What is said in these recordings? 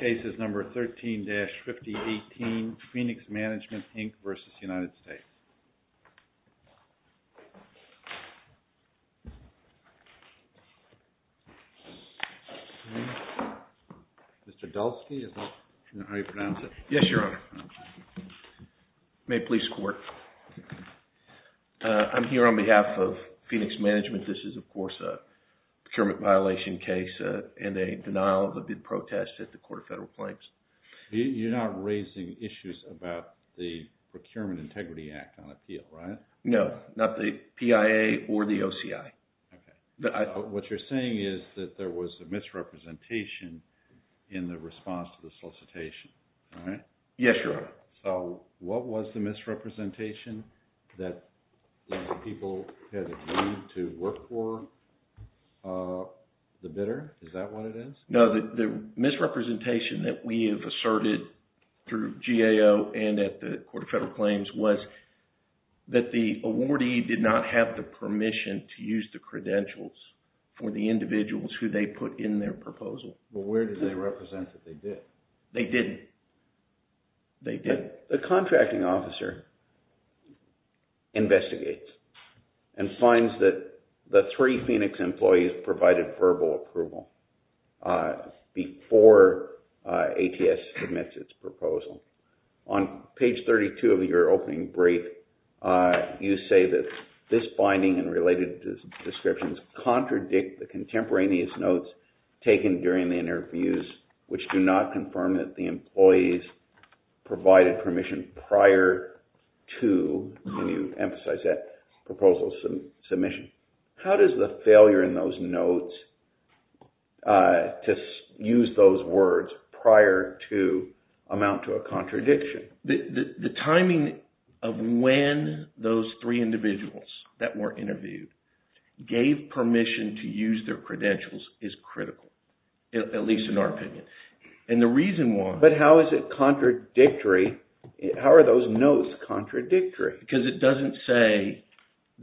Cases No. 13-5018, PHOENIX MANAGEMENT, INC v. United States Mr. Dalsky, is that how you pronounce it? Yes, Your Honor. May it please the Court. I'm here on behalf of Phoenix Management. This is, of course, a procurement violation case and a denial of the bid protest at the Court of Federal Claims. You're not raising issues about the Procurement Integrity Act on appeal, right? No, not the PIA or the OCI. Okay. What you're saying is that there was a misrepresentation in the response to the solicitation, right? Yes, Your Honor. So, what was the misrepresentation that people had agreed to work for the bidder? Is that what it is? No, the misrepresentation that we have asserted through GAO and at the Court of Federal Claims was that the awardee did not have the permission to use the credentials for the individuals who they put in their proposal. Well, where did they represent that they did? They didn't. They didn't? The contracting officer investigates and finds that the three Phoenix employees provided verbal approval before ATS submits its proposal. On page 32 of your opening brief, you say that this finding and related descriptions contradict the contemporaneous notes taken during the interviews which do not confirm that the employees provided permission prior to, and you emphasize that, proposal submission. How does the failure in those notes to use those words prior to amount to a contradiction? The timing of when those three individuals that were interviewed gave permission to use their credentials is critical, at least in our opinion. And the reason why... But how is it contradictory? How are those notes contradictory? Because it doesn't say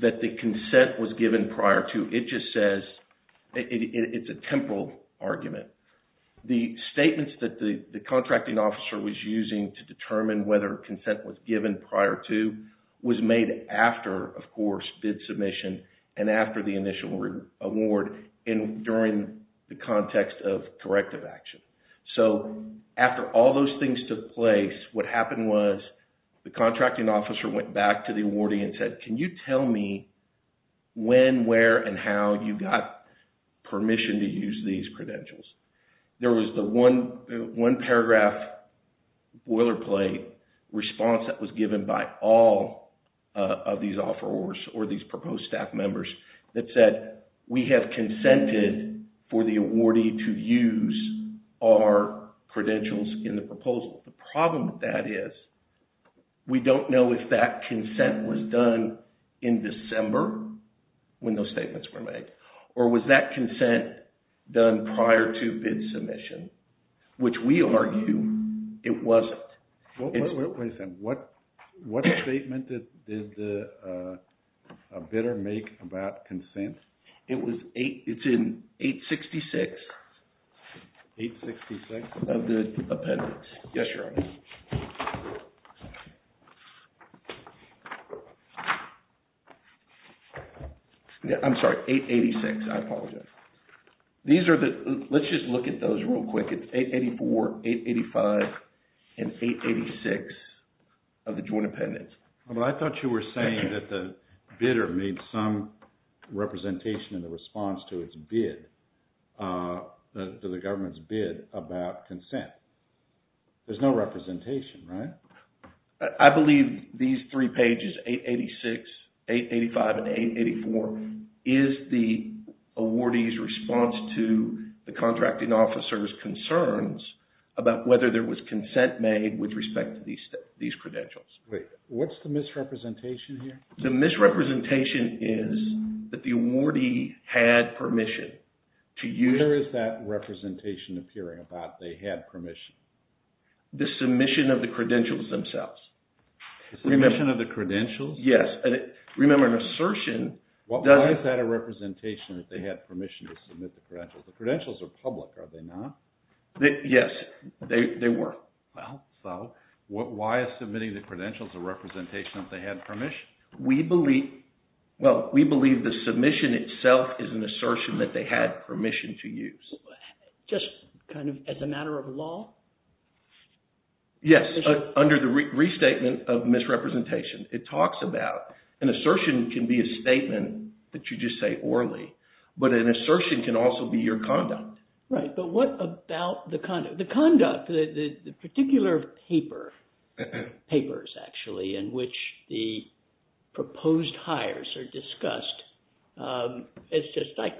that the consent was given prior to. It just says, it's a temporal argument. The statements that the contracting officer was using to determine whether consent was given prior to was made after, of course, bid submission and after the initial award and during the context of corrective action. So, after all those things took place, what happened was the contracting officer went back to the awardee and said, can you tell me when, where, and how you got permission to use these credentials? There was the one paragraph boilerplate response that was given by all of these offerors or these proposed staff members that said, we have consented for the awardee to use our credentials in the proposal. The problem with that is we don't know if that consent was done in December when those statements were made, or was that consent done prior to bid submission, which we argue it wasn't. Wait a second. What statement did the bidder make about consent? It was 8... It's in 866. 866? Of the appendix. Yes, Your Honor. I'm sorry, 886, I apologize. These are the... Let's just look at those real quick. It's 884, 885, and 886 of the joint appendix. Well, I thought you were saying that the bidder made some representation in the response to its bid, to the government's bid about consent. There's no representation, right? I believe these three pages, 886, 885, and 884, is the awardee's response to the contracting officer's concerns about whether there was consent made with respect to these credentials. Wait, what's the misrepresentation here? The misrepresentation is that the awardee had permission to use... Where is that representation appearing about they had permission? The submission of the credentials themselves. The submission of the credentials? Yes, and remember an assertion... Why is that a representation that they had permission to submit the credentials? The credentials are public, are they not? Yes, they were. Well, so why is submitting the credentials a representation of they had permission? We believe the submission itself is an assertion that they had permission to use. Just kind of as a matter of law? Yes, under the restatement of misrepresentation. It talks about an assertion can be a statement that you just say orally, but an assertion can also be your conduct. Right, but what about the conduct? The conduct, the particular paper, papers actually, in which the proposed hires are discussed, it's just like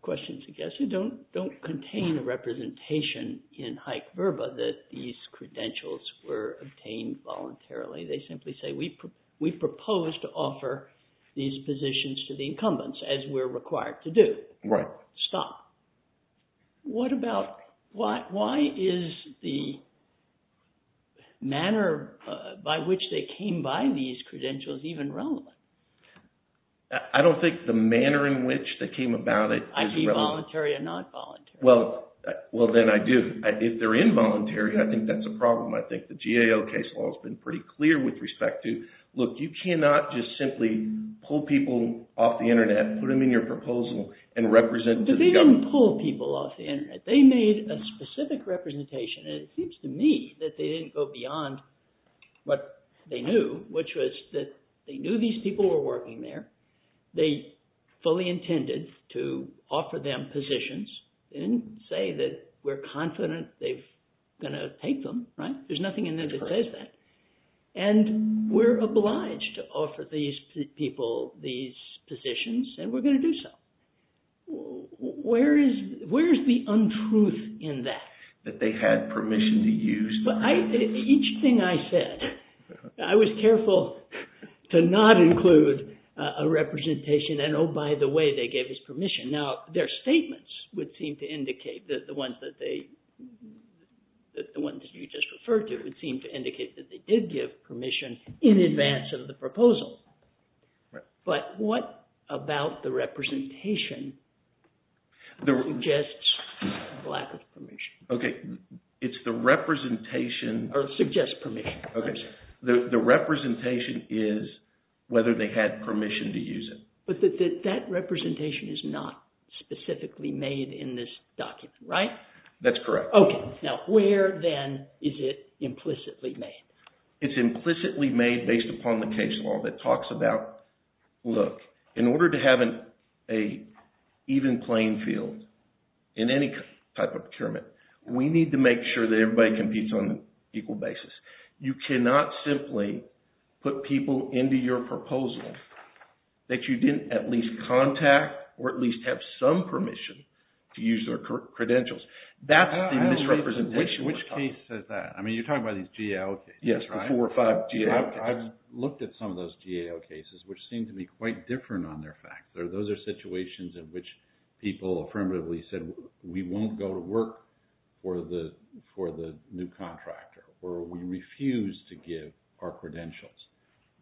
questions, I guess, who don't contain a representation in Hike-Verba that these credentials were obtained voluntarily. They simply say, we propose to offer these positions to the incumbents as we're required to do. Right. Stop. What about, why is the manner by which they came by these credentials even relevant? I don't think the manner in which they came about it is relevant. Either voluntary or not voluntary. Well, then I do. If they're involuntary, I think that's a problem. I think the GAO case law has been pretty clear with respect to, look, you cannot just simply pull people off the internet, put them in your proposal, and represent to the government. But they didn't pull people off the internet. They made a specific representation, and it seems to me that they didn't go beyond what they knew, which was that they knew these people were working there. They fully intended to offer them positions. They didn't say that we're confident they're going to take them, right? There's nothing in there that says that. And we're obliged to offer these people these positions, and we're going to do so. Where is the untruth in that? That they had permission to use them? Each thing I said, I was careful to not include a representation, and oh, by the way, they gave us permission. Now, their statements would seem to indicate that the ones that they, the ones that you just referred to would seem to indicate that they did give permission in advance of the proposal. But what about the representation that suggests lack of permission? Okay. It's the representation. Or suggests permission. Okay. The representation is whether they had permission to use it. But that representation is not specifically made in this document, right? That's correct. Okay. Now, where then is it implicitly made? It's implicitly made based upon the case law that talks about, look, in order to have an even playing field in any type of procurement, we need to make sure that everybody competes on an equal basis. You cannot simply put people into your proposal that you didn't at least contact or at least have some permission to use their credentials. That's the misrepresentation. Which case says that? I mean, you're talking about these GAO cases, right? Yes, the four or five GAO cases. I've looked at some of those GAO cases, which seem to be quite different on their fact. Those are situations in which people affirmatively said, we won't go to work for the new contractor, or we refuse to give our credentials.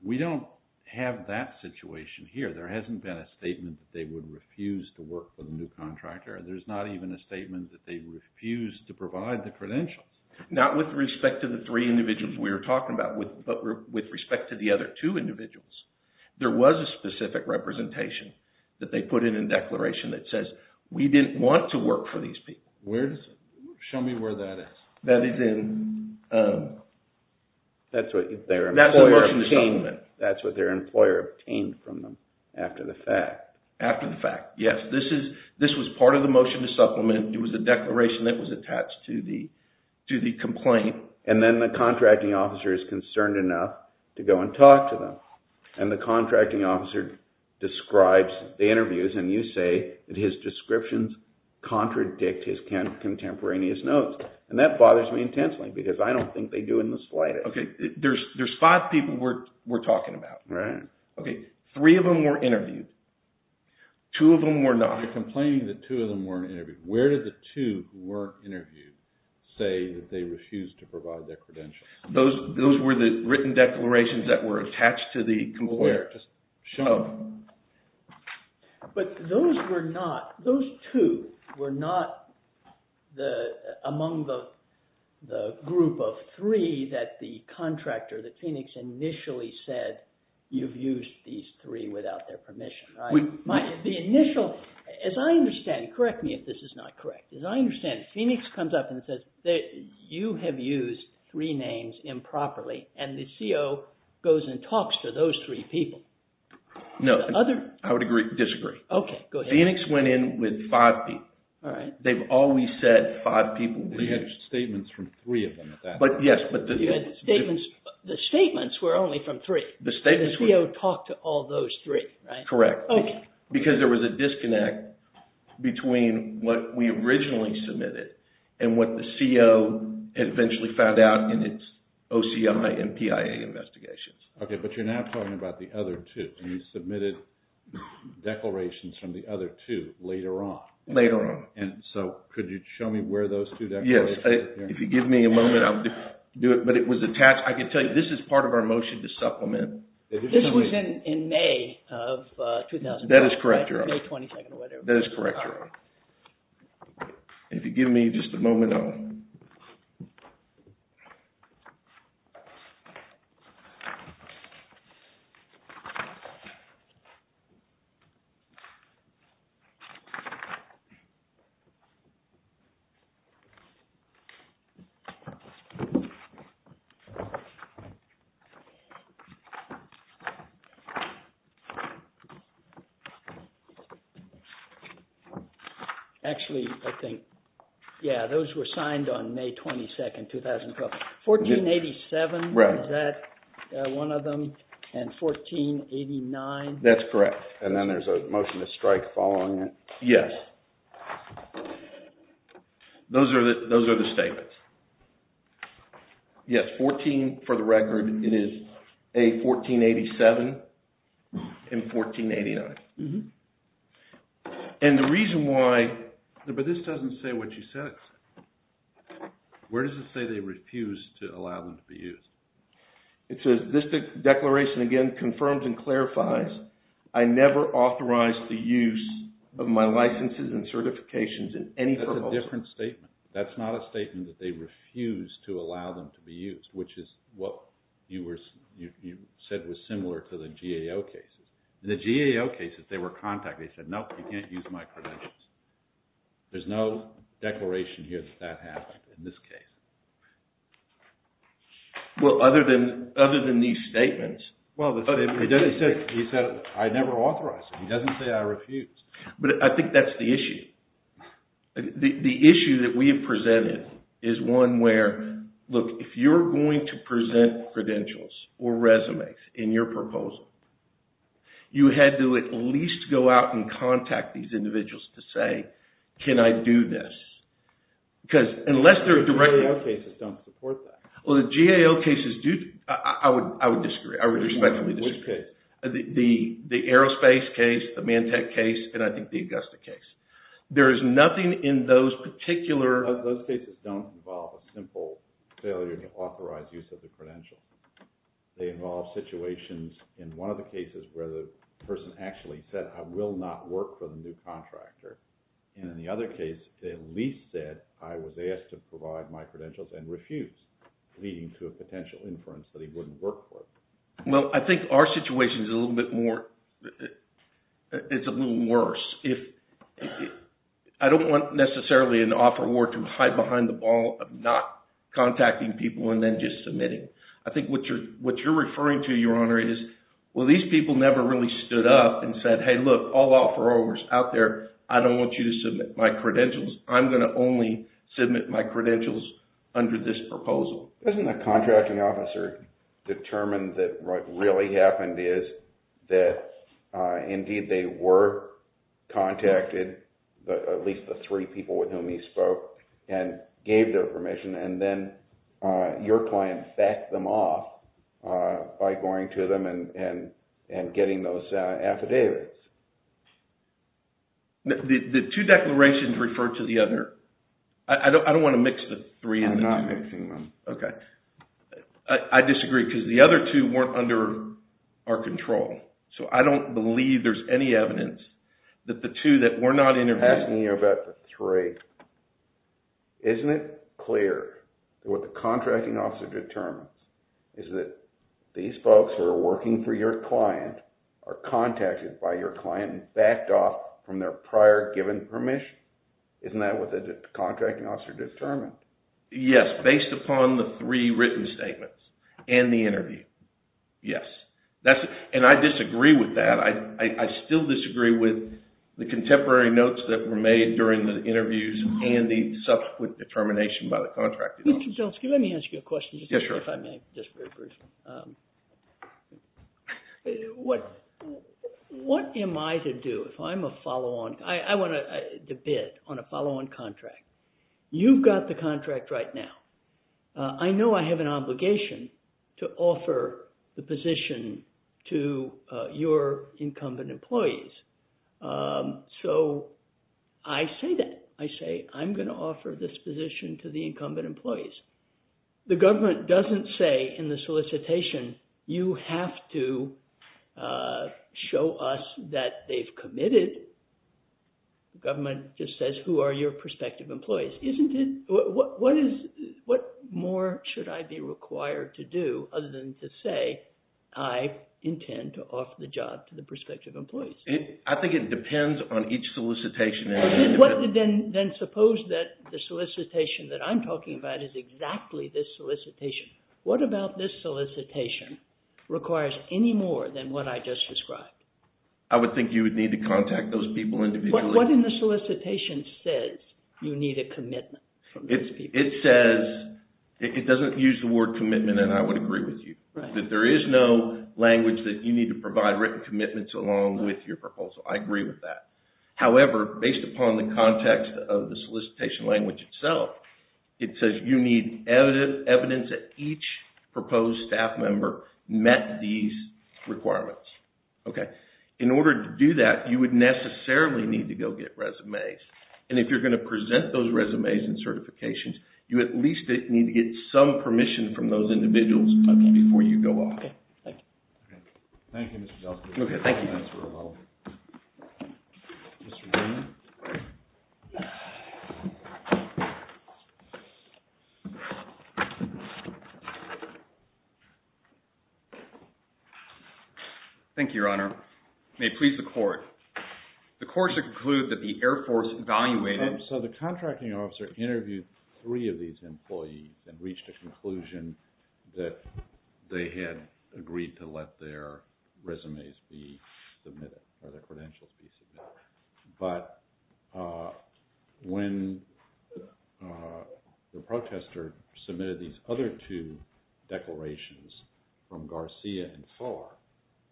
We don't have that situation here. There hasn't been a statement that they would refuse to work for the new contractor. There's not even a statement that they refused to provide the credentials. Not with respect to the three individuals we were talking about, but with respect to the other two individuals. There was a specific representation that they put in a declaration that says, we didn't want to work for these people. Show me where that is. That is in... That's what their employer obtained from them after the fact. After the fact. Yes, this was part of the motion to supplement. It was a declaration that was attached to the complaint. And then the contracting officer is concerned enough to go and talk to them. And the contracting officer describes the interviews, and you say that his descriptions contradict his contemporaneous notes. And that bothers me intensely, because I don't think they do in the slightest. Okay, there's five people we're talking about. Right. Okay, three of them were interviewed. Two of them were not. They're complaining that two of them weren't interviewed. Where did the two who weren't interviewed say that they refused to provide their credentials? Those were the written declarations that were attached to the employer. Just show them. But those were not... Those two were not among the group of three that the contractor, that Phoenix initially said, you've used these three without their permission, right? The initial... As I understand, correct me if this is not correct. As I understand, Phoenix comes up and says, you have used three names improperly. And the CO goes and talks to those three people. No. Other... I would disagree. Okay, go ahead. Phoenix went in with five people. All right. They've always said five people. They had statements from three of them at that point. Yes, but the... The statements were only from three. The statements were... The CO talked to all those three, right? Correct. Okay. Because there was a disconnect between what we originally submitted and what the CO eventually found out in its OCI and PIA investigations. Okay, but you're now talking about the other two. You submitted declarations from the other two later on. Later on. And so could you show me where those two declarations... Yes. If you give me a moment, I'll do it. But it was attached. I can tell you, this is part of our motion to supplement. This was in May of 2012. That is correct, Your Honor. May 22nd or whatever. That is correct, Your Honor. All right. If you give me just a moment, I'll... Actually, I think... Yeah, those were signed on May 22nd, 2012. 1487... Right. Is that one of them? And 1489? That's correct. Okay. And then there's a motion to strike following it. Yes. Those are the statements. Yes, 14 for the record. It is a 1487 and 1489. And the reason why... But this doesn't say what you said. Where does it say they refused to allow them to be used? It says, this declaration, again, confirms and clarifies, I never authorized the use of my licenses and certifications in any... That's a different statement. That's not a statement that they refused to allow them to be used, which is what you said was similar to the GAO cases. The GAO cases, they were contacted. They said, no, you can't use my credentials. There's no declaration here that that happened in this case. Well, other than these statements... Well, he said, I never authorized it. He doesn't say I refused. But I think that's the issue. The issue that we have presented is one where, look, if you're going to present credentials or resumes in your proposal, you had to at least go out and contact these individuals to say, can I do this? Because unless they're directly... GAO cases don't support that. Well, the GAO cases do. I would disagree. I would respectfully disagree. Which case? The aerospace case, the Mantec case, and I think the Augusta case. There is nothing in those particular... Those cases don't involve a simple failure to authorize use of the credentials. They involve situations in one of the cases where the person actually said, I will not work for the new contractor. And in the other case, they at least said, I was asked to provide my credentials and refused, leading to a potential inference that he wouldn't work for them. Well, I think our situation is a little bit more... It's a little worse. I don't want necessarily an offeror to hide behind the ball of not contacting people and then just submitting. I think what you're referring to, Your Honor, is, well, these people never really stood up and said, hey, look, all offerors out there, I don't want you to submit my credentials. I'm going to only submit my credentials under this proposal. Isn't a contracting officer determined that what really happened is that indeed they were contacted, at least the three people with whom he spoke, and gave their permission and then your client backed them off by going to them and getting those affidavits? The two declarations refer to the other. I don't want to mix the three. I'm not mixing them. Okay. I disagree because the other two weren't under our control. So I don't believe there's any evidence that the two that were not interviewed... I'm asking you about the three. Isn't it clear that what the contracting officer determines is that these folks who are working for your client are contacted by your client and backed off from their prior given permission? Isn't that what the contracting officer determined? Yes, based upon the three written statements and the interview. Yes. And I disagree with that. I still disagree with the contemporary notes that were made during the interviews and the subsequent determination by the contracting officer. Let me ask you a question, just if I may, just very briefly. What am I to do if I'm a follow-on? I want to bid on a follow-on contract. You've got the contract right now. I know I have an obligation to offer the position to your incumbent employees. So I say that. I say, I'm going to offer this position to the incumbent employees. The government doesn't say in the solicitation, you have to show us that they've committed. The government just says, who are your prospective employees? What more should I be required to do other than to say, I intend to offer the job to the prospective employees? I think it depends on each solicitation. Then suppose that the solicitation that I'm talking about is exactly this solicitation. What about this solicitation requires any more than what I just described? I would think you would need to contact those people individually. What in the solicitation says you need a commitment from those people? It says, it doesn't use the word commitment, and I would agree with you. That there is no language that you need to provide written commitments along with your proposal. I agree with that. However, based upon the context of the solicitation language itself, it says you need evidence that each proposed staff member met these requirements. In order to do that, you would necessarily need to go get resumes. If you're going to present those resumes and certifications, you at least need to get some permission from those individuals before you go off. Thank you, Mr. Zeltsman. Thank you. Thank you, Your Honor. May it please the court. The court should conclude that the Air Force evaluated... So the contracting officer interviewed three of these employees and reached a conclusion that they had agreed to let their resumes be submitted, or their credentials be submitted. But when the protester submitted these other two declarations from Garcia and Farr,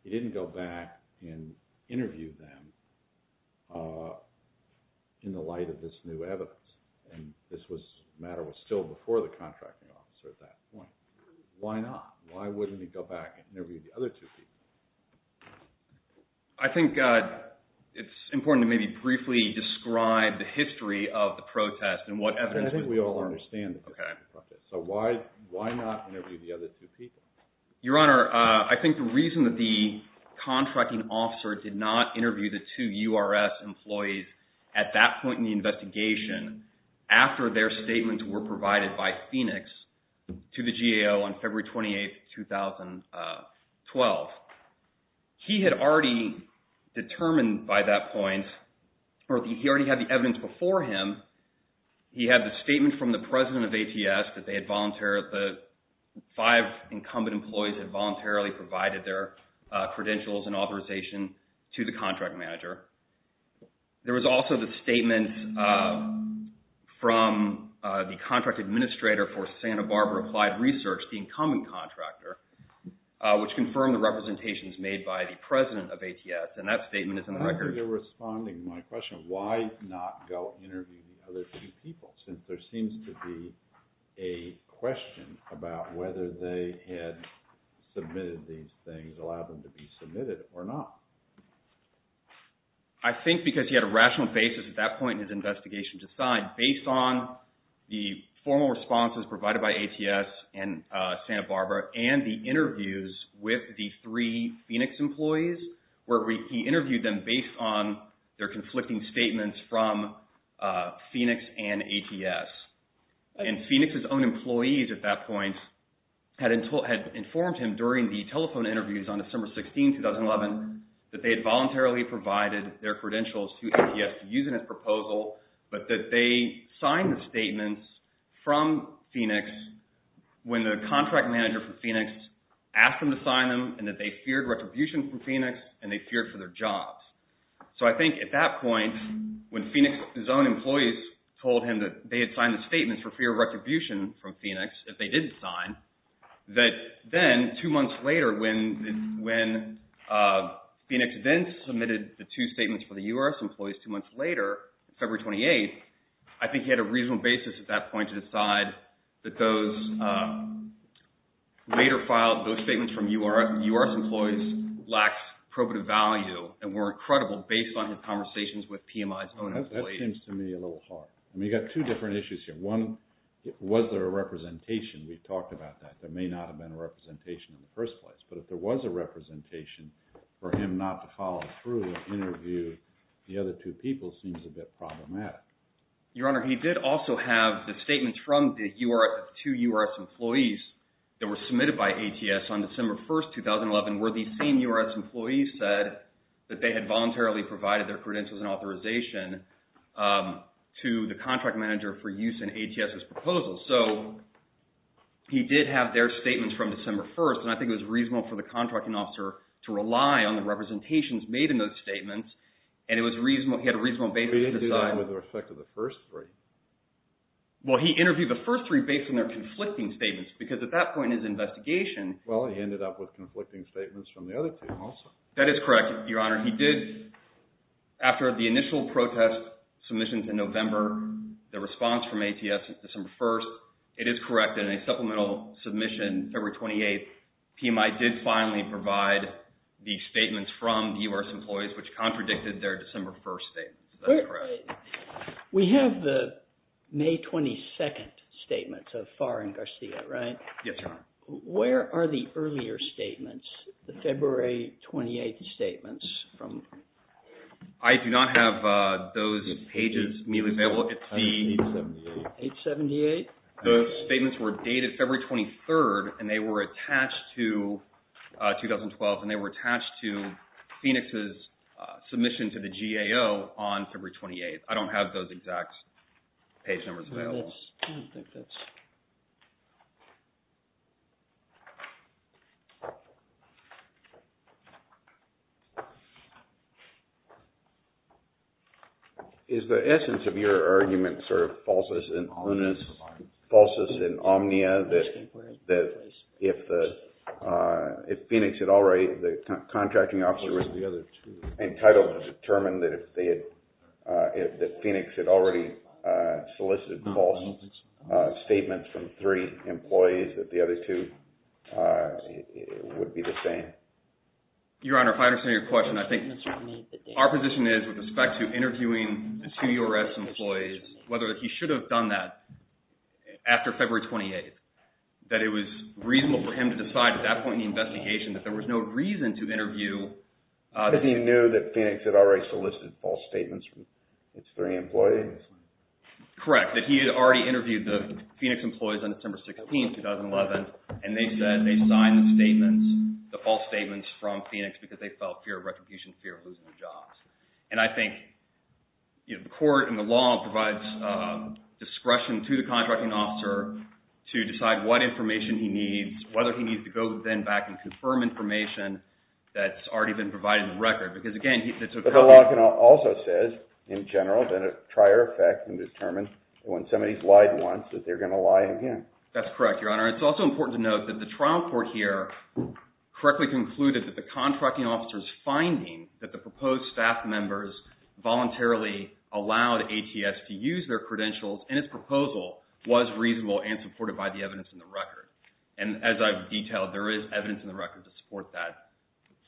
he didn't go back and interview them in the light of this new evidence. And this matter was still before the contracting officer at that point. Why not? Why wouldn't he go back and interview the other two people? I think it's important to maybe briefly describe the history of the protest and what evidence... I think we all understand... Okay. So why not interview the other two people? Your Honor, I think the reason that the contracting officer did not interview the two URS employees at that point in the investigation after their statements were provided by Phoenix to the GAO on February 28, 2012, he had already determined by that point, or he already had the evidence before him. He had the statement from the president of ATS that the five incumbent employees had voluntarily provided their credentials and authorization to the contract manager. There was also the statement from the contract administrator for Santa Barbara Applied Research, the incumbent contractor, which confirmed the representations made by the president of ATS. And that statement is in the records. You're responding to my question of why not go interview the other two people since there seems to be a question about whether they had submitted these things, allowed them to be submitted or not. I think because he had a rational basis at that point in his investigation to decide based on the formal responses provided by ATS and Santa Barbara and the interviews with the three Phoenix employees where he interviewed them based on their conflicting statements from Phoenix and ATS. And Phoenix's own employees at that point had informed him during the telephone interviews on December 16, 2011, that they had voluntarily provided their credentials to ATS using his proposal, but that they signed the statements from Phoenix when the contract manager for Phoenix asked them to sign them and that they feared retribution from Phoenix and they feared for their jobs. So I think at that point when Phoenix's own employees told him that they had signed the statements for fear of retribution from Phoenix, if they did sign, that then two months later when Phoenix then submitted the two statements for the URS employees two months later, February 28, I think he had a reasonable basis at that point to decide that those later filed, those statements from URS employees lacked probative value and were incredible based on his conversations with PMI's own employees. That seems to me a little hard. I mean, you've got two different issues here. One, was there a representation? We've talked about that. There may not have been a representation in the first place, but if there was a representation for him not to follow through and interview the other two people seems a bit problematic. Your Honor, he did also have the statements from the two URS employees that were submitted by ATS on December 1, 2011 where the same URS employees said that they had voluntarily provided their credentials and authorization to the contract manager for use in ATS's proposal. So he did have their statements from December 1, and I think it was reasonable for the contracting officer to rely on the representations made in those statements and he had a reasonable basis to decide with respect to the first three. Well, he interviewed the first three based on their conflicting statements because at that point in his investigation Well, he ended up with conflicting statements from the other two also. That is correct, Your Honor. He did, after the initial protest submission in November, the response from ATS December 1, it is correct that in a supplemental submission February 28, PMI did finally provide the statements from the URS employees which contradicted their December 1 statements. That is correct. We have the May 22 statements of Farr and Garcia, right? Yes, Your Honor. Where are the earlier statements, the February 28 statements from... I do not have those pages immediately available. It is the... 878. 878? Those statements were dated February 23 and they were attached to 2012 and they were attached to Phoenix's submission to the GAO on February 28. I do not have those exact page numbers available. I do not think that is... Is the essence of your argument sort of falsest in omnia that if Phoenix had already... the contracting officer was entitled to determine that Phoenix had already solicited false statements from three employees that the other two would be the same? Your Honor, if I understand your question, I think our position is with respect to interviewing the two URS employees, whether he should have done that after February 28, that it was reasonable for him to decide at that point in the investigation that there was no reason to interview... That he knew that Phoenix had already solicited false statements from its three employees? Correct. That he had already interviewed the Phoenix employees on December 16, 2011 and they said they signed the false statements from Phoenix because they felt fear of retribution, fear of losing their jobs. And I think the court and the law provides discretion to the contracting officer to decide what information he needs, whether he needs to go then back and confirm information that's already been provided in the record. But the law also says, in general, that a prior effect can determine when somebody's lied once that they're going to lie again. That's correct, Your Honor. It's also important to note that the trial court here correctly concluded that the contracting officer's finding that the proposed staff members voluntarily allowed ATS to use their credentials and its proposal was reasonable and supported by the evidence in the record. And as I've detailed, there is evidence in the record to support that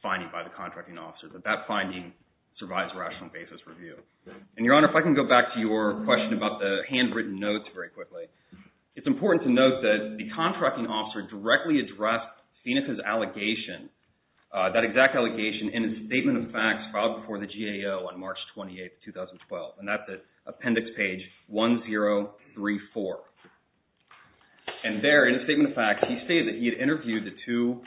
finding by the contracting officer that that finding survives rational basis review. And, Your Honor, if I can go back to your question about the handwritten notes very quickly. It's important to note that the contracting officer directly addressed Phoenix's allegation, that exact allegation, in a statement of facts filed before the GAO on March 28, 2012. And that's at appendix page 1034. And there, in a statement of facts, he stated that he had interviewed the two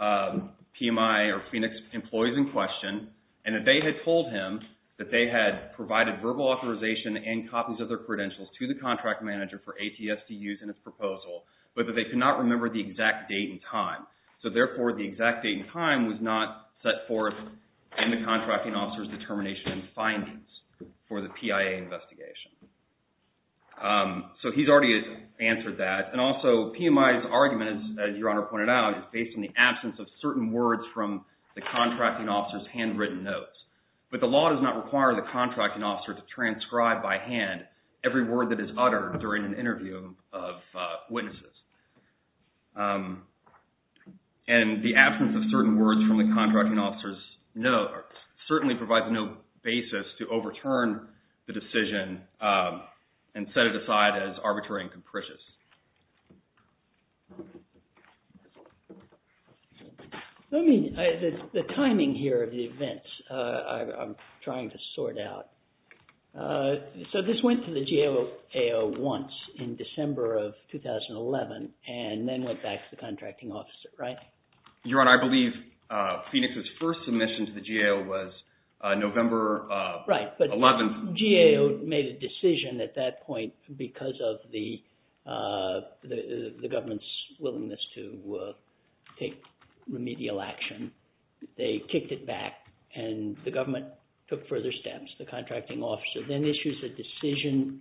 PMI or Phoenix employees in question and that they had told him that they had provided verbal authorization and copies of their credentials to the contract manager for ATS to use in his proposal, but that they could not remember the exact date and time. So, therefore, the exact date and time was not set forth in the contracting officer's determination and findings for the PIA investigation. So, he's already answered that. And also, PMI's argument, as Your Honor pointed out, is based on the absence of certain words from the contracting officer's handwritten notes. But the law does not require the contracting officer to transcribe by hand every word that is uttered during an interview of witnesses. And the absence of certain words from the contracting officer's notes certainly provides no basis to overturn the decision and set it aside as arbitrary and capricious. Let me, the timing here of the events, I'm trying to sort out. So, this went to the GAO once in December of 2011. And then went back to the contracting officer, right? Your Honor, I believe Phoenix's first submission to the GAO was November 11th. Right, but GAO made a decision at that point because of the government's willingness to take remedial action. They kicked it back and the government took further steps. The contracting officer then issues a decision,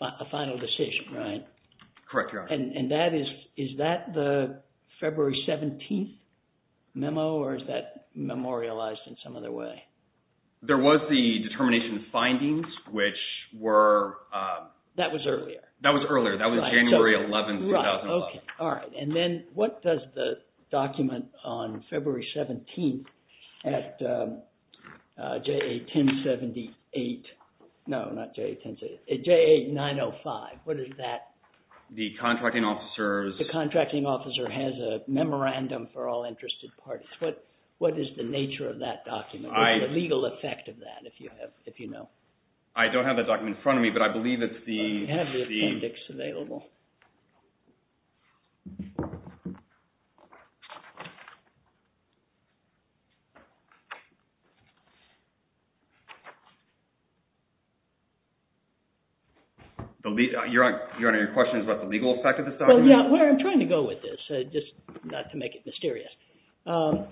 a final decision, right? Correct, Your Honor. And that is, is that the February 17th memo? Or is that memorialized in some other way? There was the determination of findings, which were... That was earlier. That was earlier, that was January 11th, 2011. Right, okay, all right. And then what does the document on February 17th at JA 1078, no, not JA 1078, at JA 905, what is that? The contracting officer's... The contracting officer has a memorandum for all interested parties. What is the nature of that document? What is the legal effect of that, if you know? I don't have that document in front of me, but I believe it's the... I have the appendix available. Your Honor, your question is about the legal effect of this document? Well, yeah, where I'm trying to go with this, just not to make it mysterious,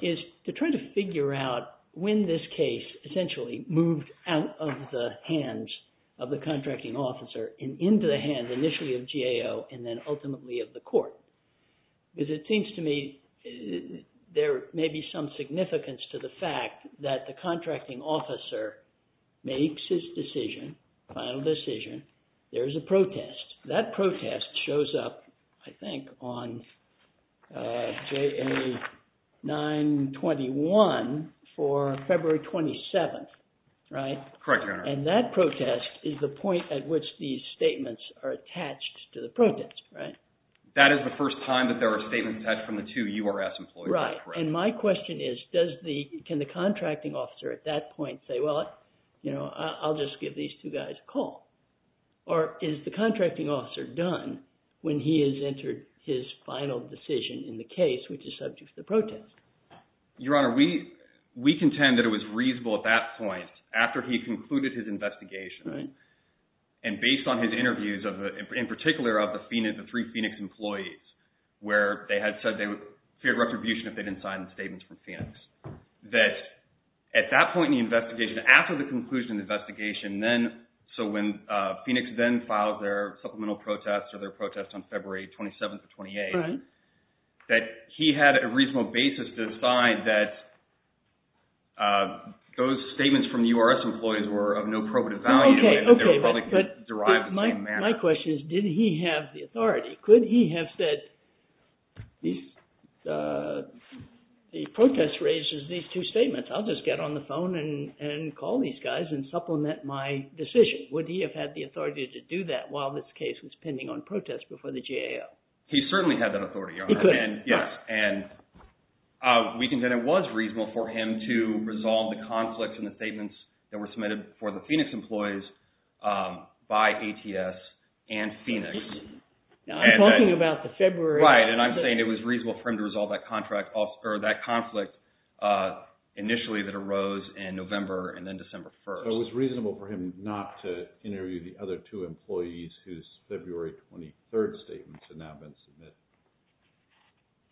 is to try to figure out when this case essentially moved out of the hands of the contracting officer and into the hands initially of GAO and then ultimately of the court. Because it seems to me there may be some significance to the fact that the contracting officer makes his decision, final decision, there's a protest. That protest shows up, I think, on JA 921 for February 27th, right? Correct, your Honor. And that protest is the point at which these statements are attached to the protest, right? That is the first time that there are statements attached from the two URS employees. Right, and my question is, can the contracting officer at that point say, well, I'll just give these two guys a call? Or is the contracting officer done when he has entered his final decision in the case, which is subject to the protest? Your Honor, we contend that it was reasonable at that point, after he concluded his investigation, and based on his interviews, in particular of the three Phoenix employees, where they had said that they feared retribution if they didn't sign the statements from Phoenix, that at that point in the investigation, after the conclusion of the investigation, so when Phoenix then filed their supplemental protest or their protest on February 27th or 28th, that he had a reasonable basis to decide that those statements from the URS employees were of no probative value and that they were probably derived in the same manner. My question is, did he have the authority? Could he have said, the protest raises these two statements. I'll just get on the phone and call these guys and supplement my decision. Would he have had the authority to do that while this case was pending on protest before the GAO? He certainly had that authority, Your Honor. He could. Yes, and we contend it was reasonable for him to resolve the conflicts and the statements that were submitted for the Phoenix employees by ATS and Phoenix. I'm talking about the February conflict. Right, and I'm saying it was reasonable for him to resolve that conflict initially that arose in November and then December 1st. So it was reasonable for him not to interview the other two employees whose February 23rd statements had now been submitted.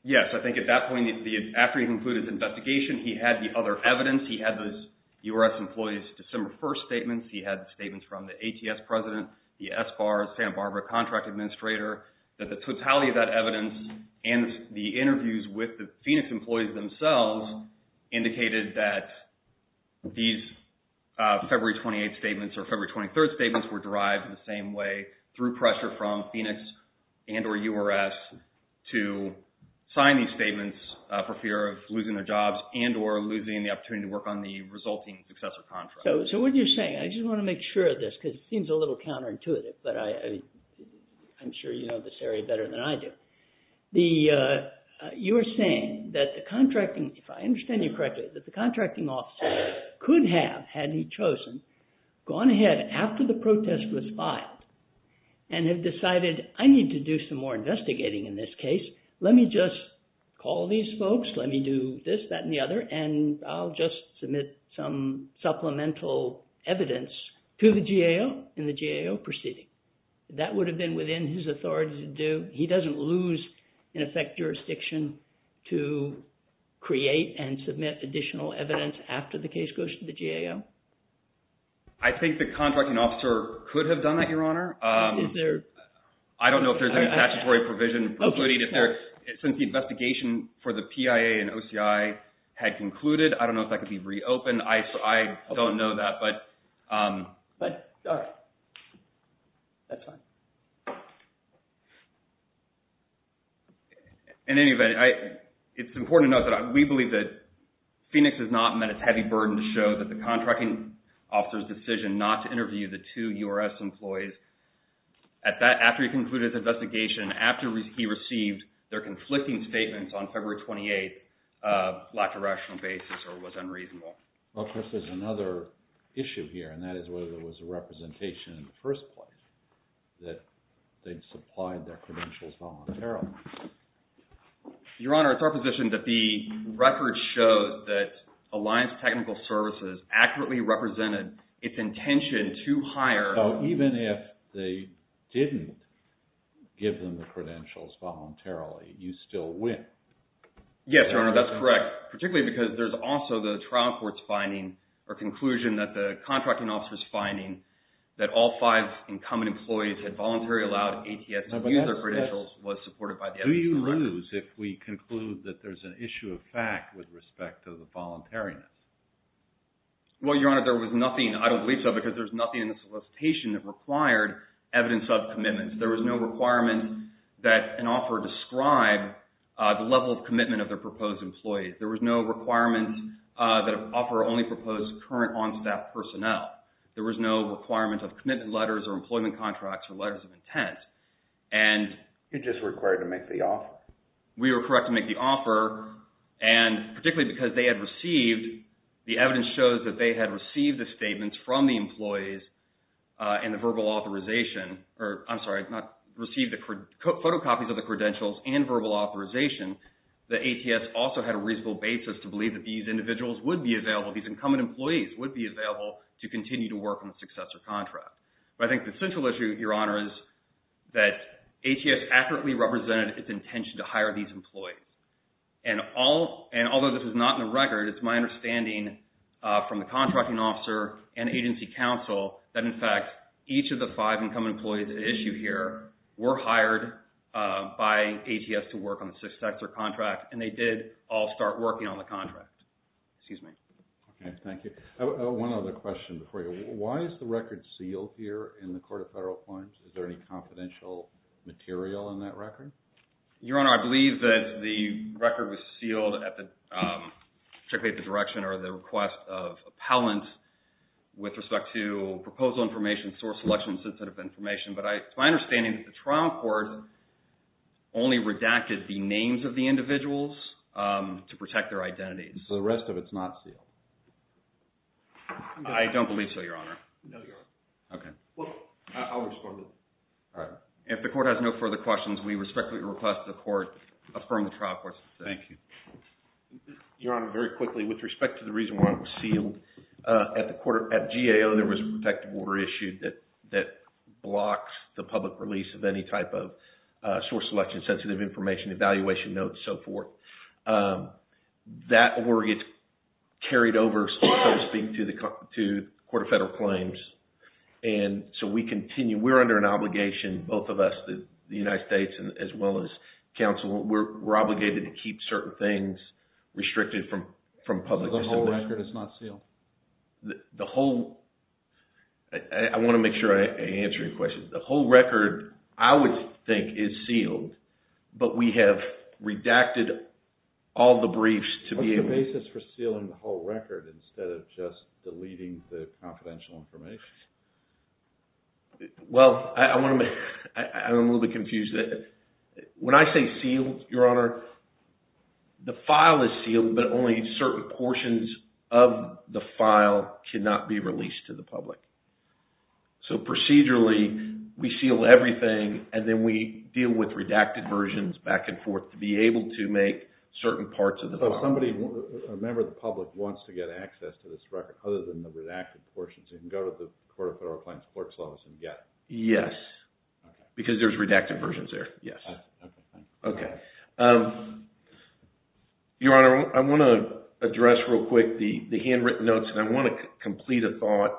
Yes, I think at that point, after he concluded the investigation, he had the other evidence. He had the URS employees' December 1st statements. He had statements from the ATS president, the SBAR, San Barbara contract administrator, that the totality of that evidence and the interviews with the Phoenix employees themselves indicated that these February 28th statements or February 23rd statements were derived in the same way through pressure from Phoenix and or URS to sign these statements for fear of losing their jobs and or losing the opportunity to work on the resulting successor contract. So what you're saying, I just want to make sure of this because it seems a little counterintuitive, but I'm sure you know this area better than I do. You're saying that the contracting, if I understand you correctly, that the contracting officer could have, had he chosen, gone ahead after the protest was filed and have decided, I need to do some more investigating in this case. Let me just call these folks. Let me do this, that, and the other, and I'll just submit some supplemental evidence to the GAO in the GAO proceeding. That would have been within his authority to do. He doesn't lose, in effect, jurisdiction to create and submit additional evidence after the case goes to the GAO. I think the contracting officer could have done that, Your Honor. Is there? I don't know if there's any statutory provision, since the investigation for the PIA and OCI had concluded. I don't know if that could be reopened. I don't know that, but all right. That's fine. In any event, it's important to note that we believe that Phoenix has not met its heavy burden to show that the contracting officer's decision not to interview the two URS employees, after he concluded his investigation, after he received their conflicting statements on February 28th, lacked a rational basis or was unreasonable. Well, Chris, there's another issue here, and that is whether there was a representation in the first place that they'd supplied their credentials voluntarily. Your Honor, it's our position that the record shows that Alliance Technical Services accurately represented its intention to hire so even if they didn't give them the credentials voluntarily, you still win. Yes, Your Honor, that's correct, particularly because there's also the trial court's finding or conclusion that the contracting officer's finding that all five incumbent employees had voluntarily allowed ATS to use their credentials was supported by the SBA. Do you lose if we conclude that there's an issue of fact with respect to the voluntariness? Well, Your Honor, there was nothing. I don't believe so because there's nothing in the solicitation that required evidence of commitment. There was no requirement that an offer describe the level of commitment of their proposed employees. There was no requirement that an offer only proposed current on-staff personnel. There was no requirement of commitment letters or employment contracts or letters of intent. You're just required to make the offer. We were correct to make the offer, and particularly because they had received, the evidence shows that they had received the statements from the employees and the verbal authorization, or I'm sorry, received the photocopies of the credentials and verbal authorization, that ATS also had a reasonable basis to believe that these individuals would be available, these incumbent employees would be available to continue to work on the successor contract. But I think the central issue, Your Honor, is that ATS accurately represented its intention to hire these employees. And although this is not in the record, it's my understanding from the contracting officer and agency counsel that, in fact, each of the five incumbent employees at issue here were hired by ATS to work on the successor contract, and they did all start working on the contract. Excuse me. Okay, thank you. One other question before you. Why is the record sealed here in the Court of Federal Appointments? Is there any confidential material in that record? Your Honor, I believe that the record was sealed particularly at the direction or the request of appellant with respect to proposal information, source selection, sensitive information. But it's my understanding that the trial court only redacted the names of the individuals to protect their identities. So the rest of it's not sealed? I don't believe so, Your Honor. No, Your Honor. Okay. Well, I'll respond to that. All right. If the court has no further questions, we respectfully request the court affirm the trial court's decision. Thank you. Your Honor, very quickly, with respect to the reason why it was sealed, at GAO there was a protective order issued that blocks the public release of any type of source selection, sensitive information, evaluation notes, so forth. That order gets carried over, so to speak, to the Court of Federal Claims. And so we continue, we're under an obligation, both of us, the United States, as well as counsel, we're obligated to keep certain things restricted from public distribution. So the whole record is not sealed? The whole... I want to make sure I answer your question. The whole record, I would think, is sealed. But we have redacted all the briefs to be able to... What's the basis for sealing the whole record instead of just deleting the confidential information? Well, I want to make... I'm a little bit confused. When I say sealed, Your Honor, the file is sealed, but only certain portions of the file cannot be released to the public. So procedurally, we seal everything, and then we deal with redacted versions back and forth to be able to make certain parts of the file. So somebody, a member of the public, wants to get access to this record other than the redacted portions. They can go to the Court of Federal Appliances and get... Yes. Because there's redacted versions there, yes. Okay. Okay. Your Honor, I want to address real quick the handwritten notes, and I want to complete a thought.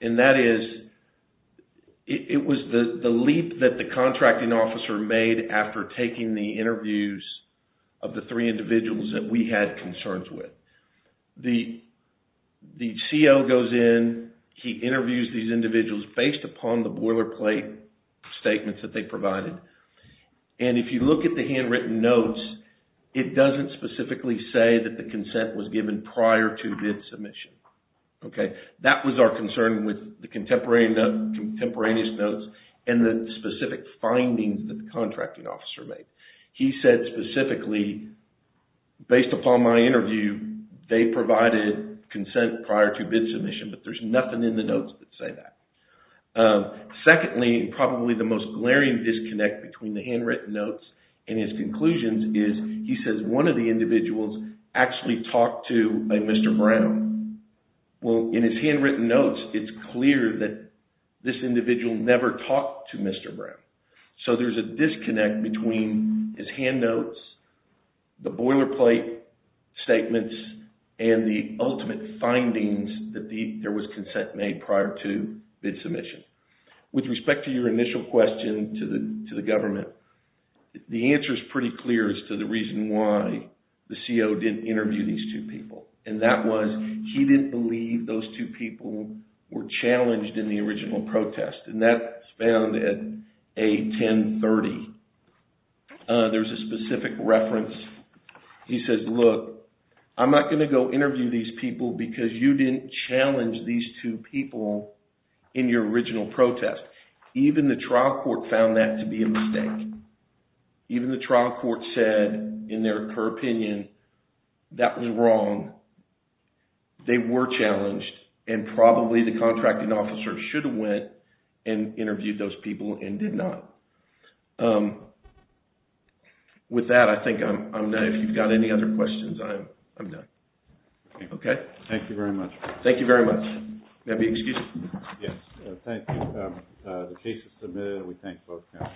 And that is, it was the leap that the contracting officer made after taking the interviews of the three individuals that we had concerns with. The CO goes in, he interviews these individuals based upon the boilerplate statements that they provided. And if you look at the handwritten notes, it doesn't specifically say that the consent was given prior to this submission. Okay? That was our concern with the contemporaneous notes and the specific findings that the contracting officer made. He said specifically, based upon my interview, they provided consent prior to bid submission, but there's nothing in the notes that say that. Secondly, probably the most glaring disconnect between the handwritten notes and his conclusions is he says one of the individuals actually talked to a Mr. Brown. Well, in his handwritten notes, it's clear that this individual never talked to Mr. Brown. So there's a disconnect between his hand notes the boilerplate statements and the ultimate findings that there was consent made prior to bid submission. With respect to your initial question to the government, the answer is pretty clear as to the reason why the CO didn't interview these two people. And that was he didn't believe those two people were challenged in the original protest. And that's found at A1030. There's a specific reference. He says, look, I'm not going to go interview these people because you didn't challenge these two people in your original protest. Even the trial court found that to be a mistake. Even the trial court said in their opinion that was wrong. They were challenged and probably the contracting officer should have went and interviewed those people and did not. With that, I think I'm done. If you've got any other questions, I'm done. Okay. Thank you very much. Thank you very much. May I be excused? Yes. Thank you. The case is submitted. We thank both counsels.